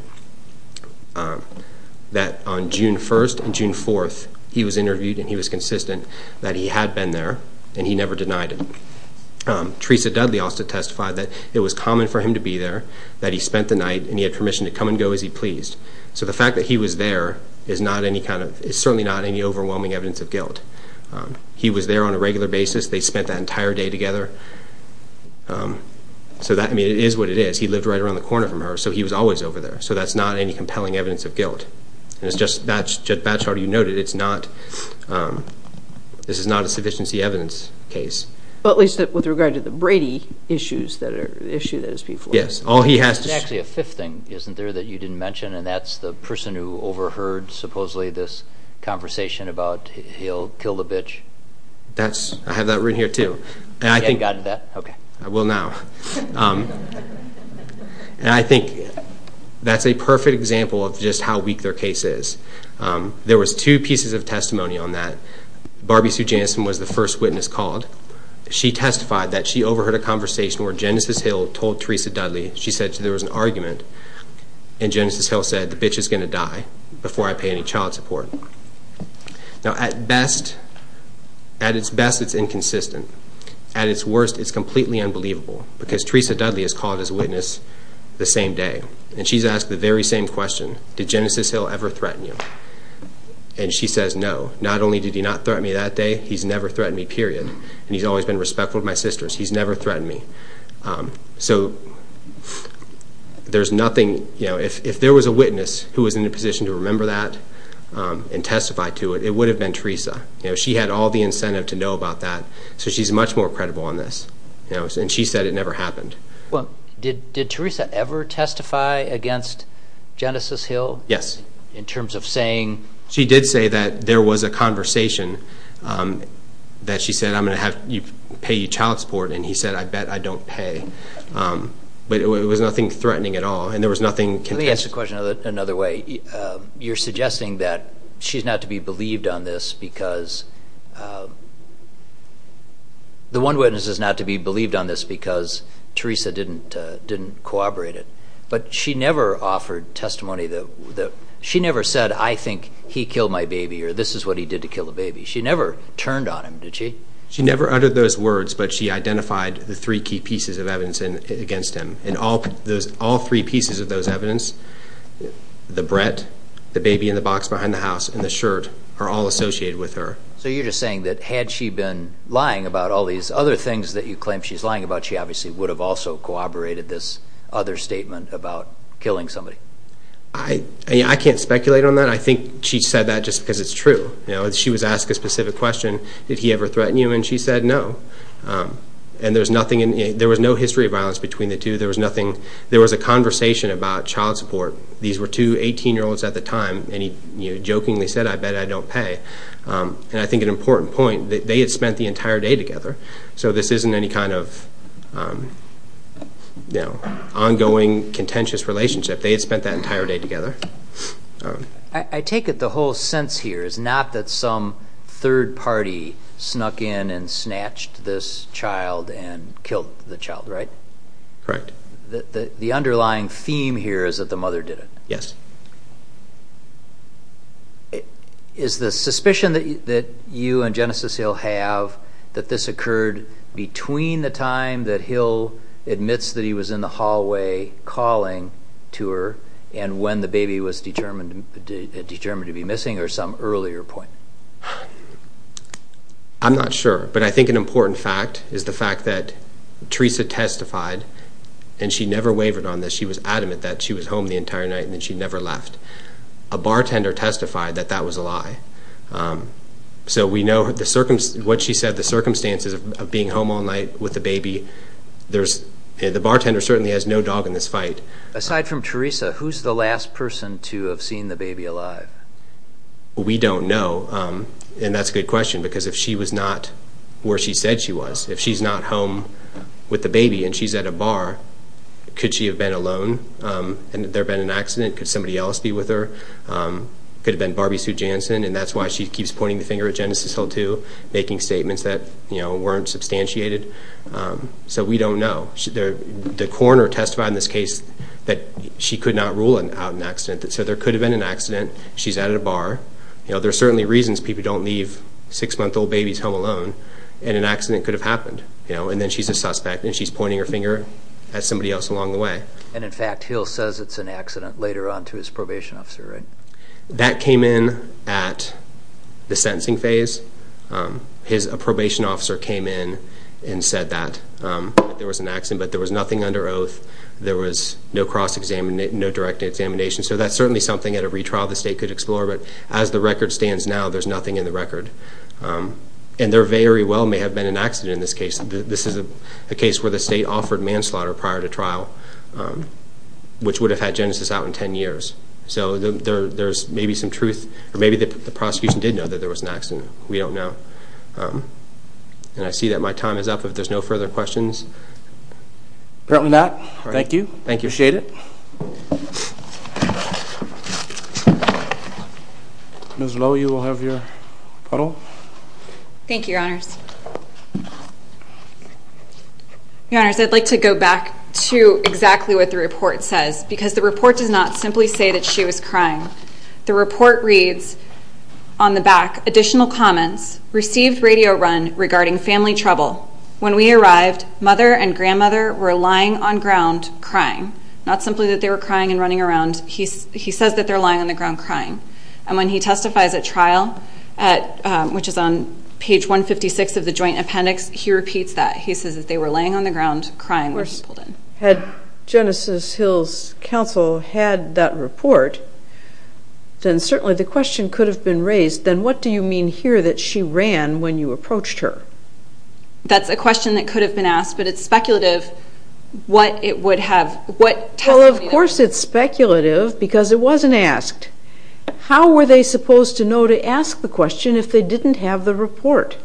that on June 1st and June 4th he was interviewed and he was consistent that he had been there and he never denied it. Teresa Dudley also testified that it was common for him to be there, that he spent the night and he had permission to come and go as he pleased. So the fact that he was there is certainly not any overwhelming evidence of guilt. He was there on a regular basis. They spent that entire day together. So it is what it is. He lived right around the corner from her, so he was always over there. So that's not any compelling evidence of guilt. As Judge Batchard, you noted, this is not a sufficiency evidence case. But at least with regard to the Brady issue that is before us. Yes. It's actually a fifth thing, isn't there, that you didn't mention, and that's the person who overheard supposedly this conversation about he'll kill the bitch. I have that written here too. You haven't gotten to that? I will now. And I think that's a perfect example of just how weak their case is. There was two pieces of testimony on that. Barbie Sue Jansen was the first witness called. She testified that she overheard a conversation where Genesis Hill told Teresa Dudley, she said there was an argument, and Genesis Hill said, the bitch is going to die before I pay any child support. Now, at its best, it's inconsistent. At its worst, it's completely unbelievable. Because Teresa Dudley is called as a witness the same day, and she's asked the very same question, did Genesis Hill ever threaten you? And she says no. Not only did he not threaten me that day, he's never threatened me, period. And he's always been respectful to my sisters. He's never threatened me. So there's nothing, you know, if there was a witness who was in a position to remember that and testify to it, it would have been Teresa. She had all the incentive to know about that, so she's much more credible on this. And she said it never happened. Did Teresa ever testify against Genesis Hill? Yes. In terms of saying? She did say that there was a conversation that she said, I'm going to pay you child support, and he said, I bet I don't pay. But it was nothing threatening at all, and there was nothing contested. Let me ask the question another way. You're suggesting that she's not to be believed on this because the one witness is not to be believed on this because Teresa didn't corroborate it. But she never offered testimony that she never said, I think he killed my baby, or this is what he did to kill the baby. She never turned on him, did she? She never uttered those words, but she identified the three key pieces of evidence against him. And all three pieces of those evidence, the bread, the baby in the box behind the house, and the shirt, are all associated with her. So you're just saying that had she been lying about all these other things that you claim she's lying about, she obviously would have also corroborated this other statement about killing somebody. I can't speculate on that. I think she said that just because it's true. She was asked a specific question, did he ever threaten you, and she said no. And there was no history of violence between the two. There was a conversation about child support. These were two 18-year-olds at the time, and he jokingly said, I bet I don't pay. And I think an important point, they had spent the entire day together, so this isn't any kind of ongoing contentious relationship. They had spent that entire day together. I take it the whole sense here is not that some third party snuck in and snatched this child and killed the child, right? Correct. The underlying theme here is that the mother did it. Yes. Is the suspicion that you and Genesis Hill have that this occurred between the time that the baby was determined to be missing or some earlier point? I'm not sure, but I think an important fact is the fact that Teresa testified, and she never wavered on this. She was adamant that she was home the entire night and that she never left. A bartender testified that that was a lie. So we know what she said, the circumstances of being home all night with the baby. The bartender certainly has no dog in this fight. Aside from Teresa, who's the last person to have seen the baby alive? We don't know, and that's a good question, because if she was not where she said she was, if she's not home with the baby and she's at a bar, could she have been alone and there have been an accident? Could somebody else be with her? Could it have been Barbie Sue Jansen? And that's why she keeps pointing the finger at Genesis Hill, too, making statements that weren't substantiated. So we don't know. The coroner testified in this case that she could not rule out an accident. So there could have been an accident. She's at a bar. There are certainly reasons people don't leave six-month-old babies home alone, and an accident could have happened. And then she's a suspect, and she's pointing her finger at somebody else along the way. And, in fact, Hill says it's an accident later on to his probation officer, right? That came in at the sentencing phase. His probation officer came in and said that there was an accident, but there was nothing under oath. There was no cross-examination, no direct examination. So that's certainly something at a retrial the state could explore. But as the record stands now, there's nothing in the record. And there very well may have been an accident in this case. This is a case where the state offered manslaughter prior to trial, which would have had Genesis out in ten years. So there's maybe some truth, or maybe the prosecution did know that there was an accident. We don't know. And I see that my time is up. If there's no further questions. Apparently not. Thank you. Appreciate it. Ms. Lowe, you will have your puddle. Thank you, Your Honors. Your Honors, I'd like to go back to exactly what the report says, because the report does not simply say that she was crying. The report reads on the back, additional comments, received radio run regarding family trouble. When we arrived, mother and grandmother were lying on ground crying. Not simply that they were crying and running around. He says that they're lying on the ground crying. And when he testifies at trial, which is on page 156 of the joint appendix, he repeats that. He says that they were laying on the ground crying when he pulled in. Had Genesis Hills Council had that report, then certainly the question could have been raised, then what do you mean here that she ran when you approached her? That's a question that could have been asked, but it's speculative what it would have. Well, of course it's speculative, because it wasn't asked. How were they supposed to know to ask the question if they didn't have the report?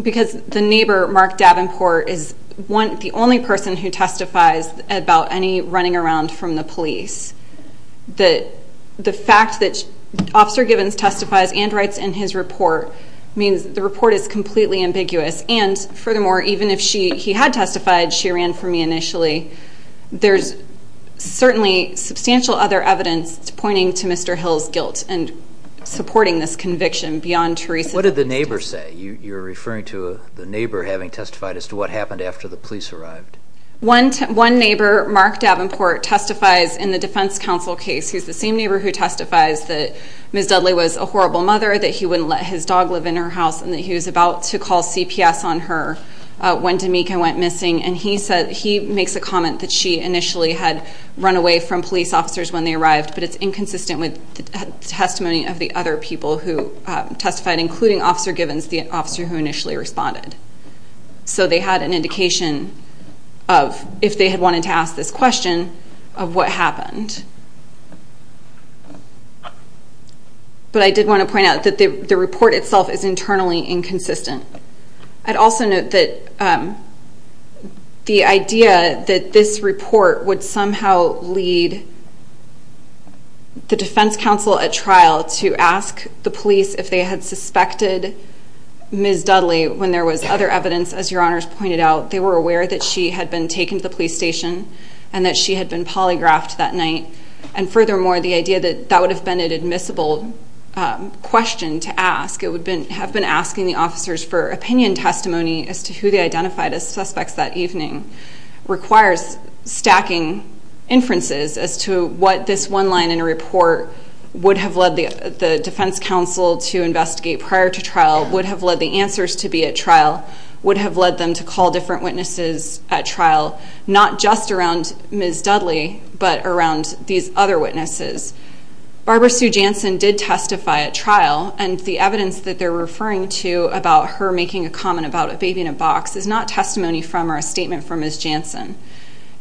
Because the neighbor, Mark Davenport, is the only person who testifies about any running around from the police. The fact that Officer Givens testifies and writes in his report means the report is completely ambiguous. And furthermore, even if he had testified, she ran for me initially. There's certainly substantial other evidence pointing to Mr. Hills' guilt and supporting this conviction beyond Theresa's investigation. What did the neighbor say? You're referring to the neighbor having testified as to what happened after the police arrived. One neighbor, Mark Davenport, testifies in the defense counsel case. He's the same neighbor who testifies that Ms. Dudley was a horrible mother, that he wouldn't let his dog live in her house, and that he was about to call CPS on her when D'Amica went missing. And he makes a comment that she initially had run away from police officers when they arrived, but it's inconsistent with testimony of the other people who testified, including Officer Givens, the officer who initially responded. So they had an indication of, if they had wanted to ask this question, of what happened. But I did want to point out that the report itself is internally inconsistent. I'd also note that the idea that this report would somehow lead the defense counsel at trial to ask the police if they had suspected Ms. Dudley when there was other evidence, as Your Honors pointed out, they were aware that she had been taken to the police station and that she had been polygraphed that night. And furthermore, the idea that that would have been an admissible question to ask, it would have been asking the officers for opinion testimony as to who they identified as suspects that evening, requires stacking inferences as to what this one line in a report would have led the defense counsel to investigate prior to trial, would have led the answers to be at trial, would have led them to call different witnesses at trial, not just around Ms. Dudley, but around these other witnesses. Barbara Sue Jansen did testify at trial, and the evidence that they're referring to about her making a comment about a baby in a box is not testimony from or a statement from Ms. Jansen.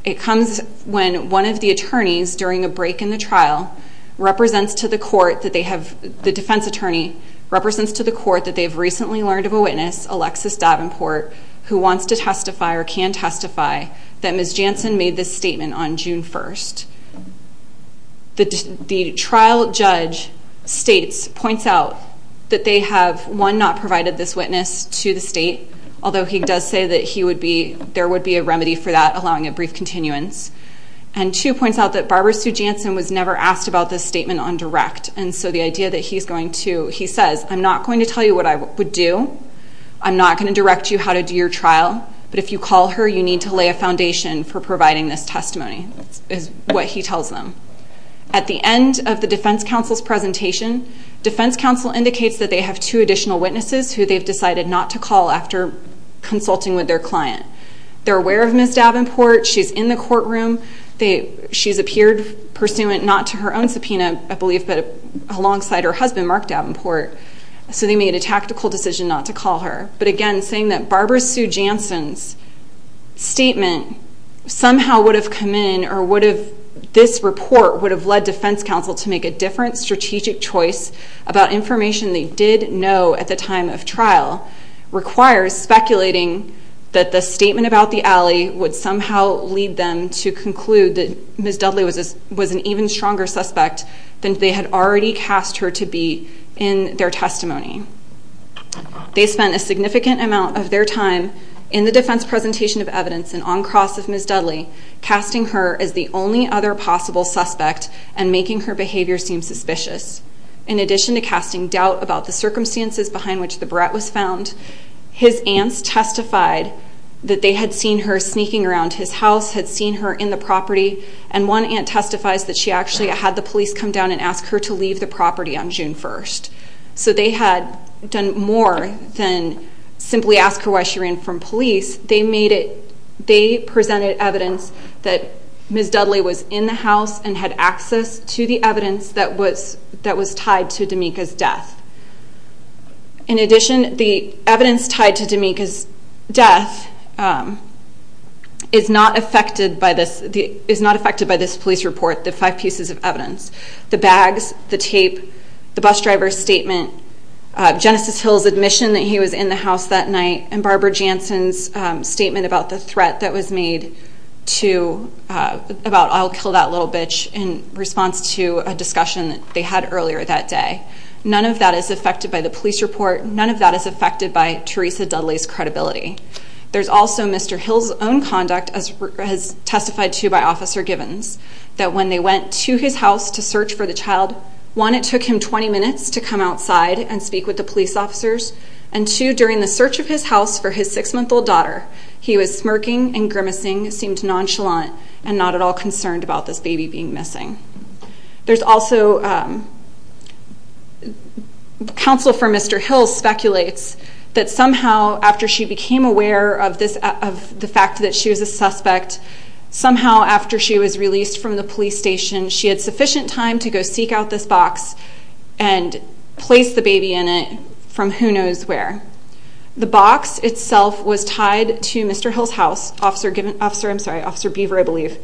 It comes when one of the attorneys, during a break in the trial, represents to the court that they have, the defense attorney, represents to the court that they have recently learned of a witness, Alexis Davenport, who wants to testify or can testify that Ms. Jansen made this statement on June 1st. He has not provided this witness to the state, although he does say that he would be, there would be a remedy for that, allowing a brief continuance. And two points out that Barbara Sue Jansen was never asked about this statement on direct, and so the idea that he's going to, he says, I'm not going to tell you what I would do, I'm not going to direct you how to do your trial, but if you call her you need to lay a foundation for providing this testimony, is what he tells them. At the end of the defense counsel's presentation, defense counsel indicates that they have two additional witnesses who they've decided not to call after consulting with their client. They're aware of Ms. Davenport, she's in the courtroom, she's appeared pursuant not to her own subpoena, I believe, but alongside her husband, Mark Davenport, so they made a tactical decision not to call her. But again, saying that Barbara Sue Jansen's statement somehow would have come in or would have, this report would have led defense counsel to make a different strategic choice about information they did know at the time of trial requires speculating that the statement about the alley would somehow lead them to conclude that Ms. Dudley was an even stronger suspect than they had already cast her to be in their testimony. They spent a significant amount of their time in the defense presentation of evidence and on cross of Ms. Dudley, casting her as the only other possible suspect and making her behavior seem suspicious. In addition to casting doubt about the circumstances behind which the barrette was found, his aunts testified that they had seen her sneaking around his house, had seen her in the property, and one aunt testifies that she actually had the police come down and ask her to leave the property on June 1st. So they had done more than simply ask her why she ran from police, they made it, they presented evidence that Ms. Dudley was in the house and had access to the evidence that was tied to D'Amica's death. In addition, the evidence tied to D'Amica's death is not affected by this police report, the five pieces of evidence. The bags, the tape, the bus driver's statement, Genesis Hill's admission that he was in the house that night, and Barbara Jansen's statement about the threat that was made about I'll kill that little bitch in response to a discussion that they had earlier that day. None of that is affected by the police report, none of that is affected by Teresa Dudley's credibility. There's also Mr. Hill's own conduct, as testified to by Officer Givens, that when they went to his house to search for the child, one, it took him 20 minutes to come outside and speak with the police officers, and two, during the search of his house for his six-month-old daughter, he was smirking and grimacing, seemed nonchalant, and not at all concerned about this baby being missing. There's also counsel for Mr. Hill speculates that somehow after she became aware of the fact that she was a suspect, somehow after she was released from the police station, she had sufficient time to go seek out this box and place the baby in it from who knows where. The box itself was tied to Mr. Hill's house. Officer Beaver, I believe,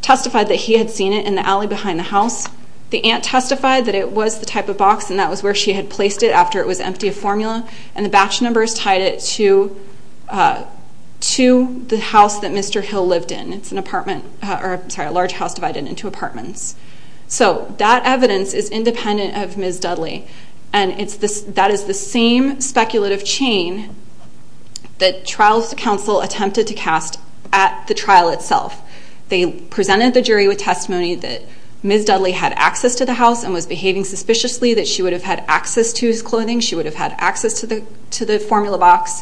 testified that he had seen it in the alley behind the house. The aunt testified that it was the type of box and that was where she had placed it after it was empty of formula, and the batch numbers tied it to the house that Mr. Hill lived in. It's a large house divided into apartments. So that evidence is independent of Ms. Dudley, and that is the same speculative chain that Trials Counsel attempted to cast at the trial itself. They presented the jury with testimony that Ms. Dudley had access to the house and was behaving suspiciously, that she would have had access to his clothing, she would have had access to the formula box,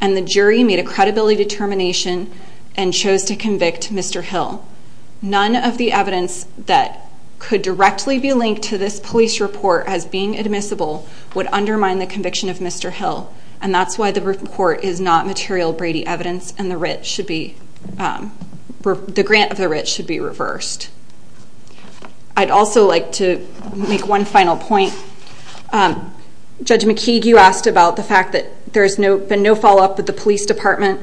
and the jury made a credibility determination and chose to convict Mr. Hill. None of the evidence that could directly be linked to this police report as being admissible would undermine the conviction of Mr. Hill, and that's why the report is not material Brady evidence and the grant of the writ should be reversed. I'd also like to make one final point. Judge McKeague, you asked about the fact that there's been no follow-up with the police department.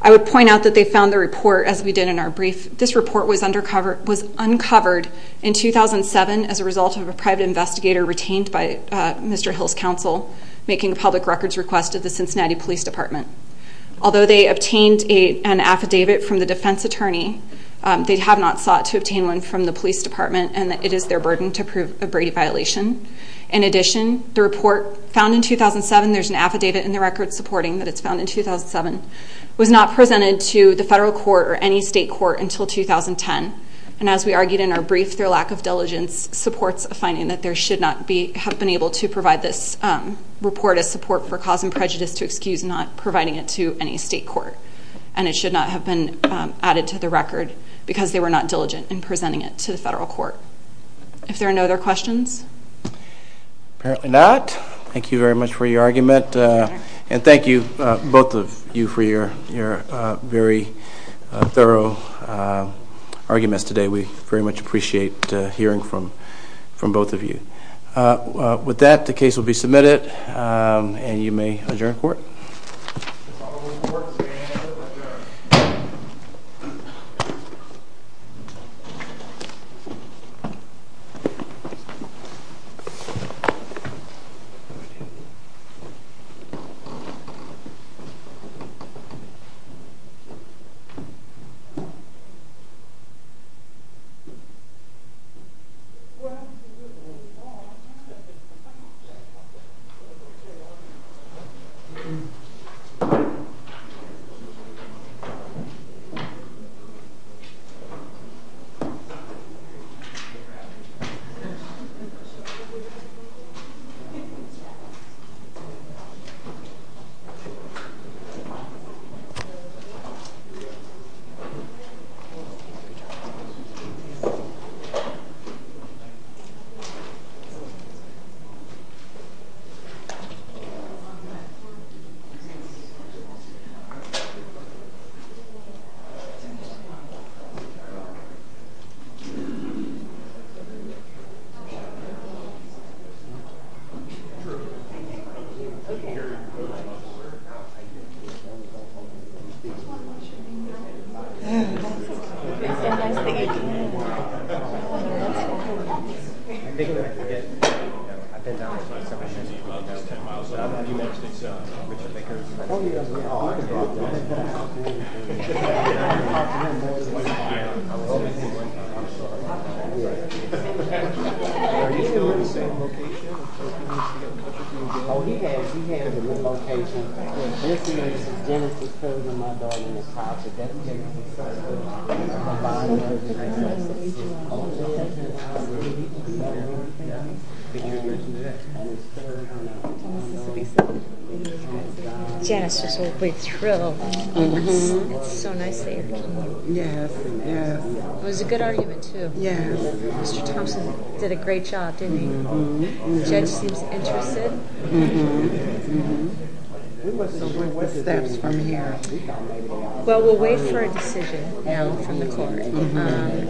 I would point out that they found the report, as we did in our brief. This report was uncovered in 2007 as a result of a private investigator retained by Mr. Hill's counsel making a public records request to the Cincinnati Police Department. Although they obtained an affidavit from the defense attorney, they have not sought to obtain one from the police department, and it is their burden to prove a Brady violation. In addition, the report found in 2007, there's an affidavit in the record supporting that it's found in 2007, was not presented to the federal court or any state court until 2010, and as we argued in our brief, their lack of diligence supports a finding that they should not have been able to provide this report as support for cause and prejudice to excuse not providing it to any state court, and it should not have been added to the record because they were not diligent in presenting it to the federal court. If there are no other questions? Apparently not. Thank you very much for your argument, and thank you, both of you, for your very thorough arguments today. We very much appreciate hearing from both of you. With that, the case will be submitted, and you may adjourn court. The following court is adjourned. Thank you. Thank you. Thank you. Yes, it's just a way to thrill. It's so nice that you're here. Yes, yes. It was a good argument, too. Yes. Mr. Thompson did a great job, didn't he? Mm-hmm. The judge seems interested. Mm-hmm. So what's the next steps from here? Well, we'll wait for a decision from the court. Mm-hmm.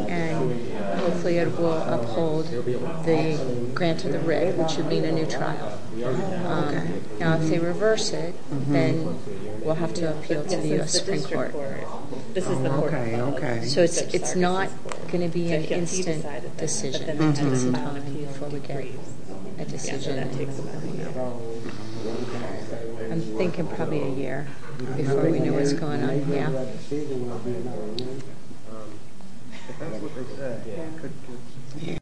And hopefully it will uphold the grant to the rig, which would mean a new trial. Okay. Now, if they reverse it, then we'll have to appeal to the U.S. Supreme Court. This is the district court. Oh, okay, okay. So it's not going to be an instant decision. It takes time before we get a decision. Yes, that takes about a year. I'm thinking probably a year before we know what's going on. Yeah. Yeah.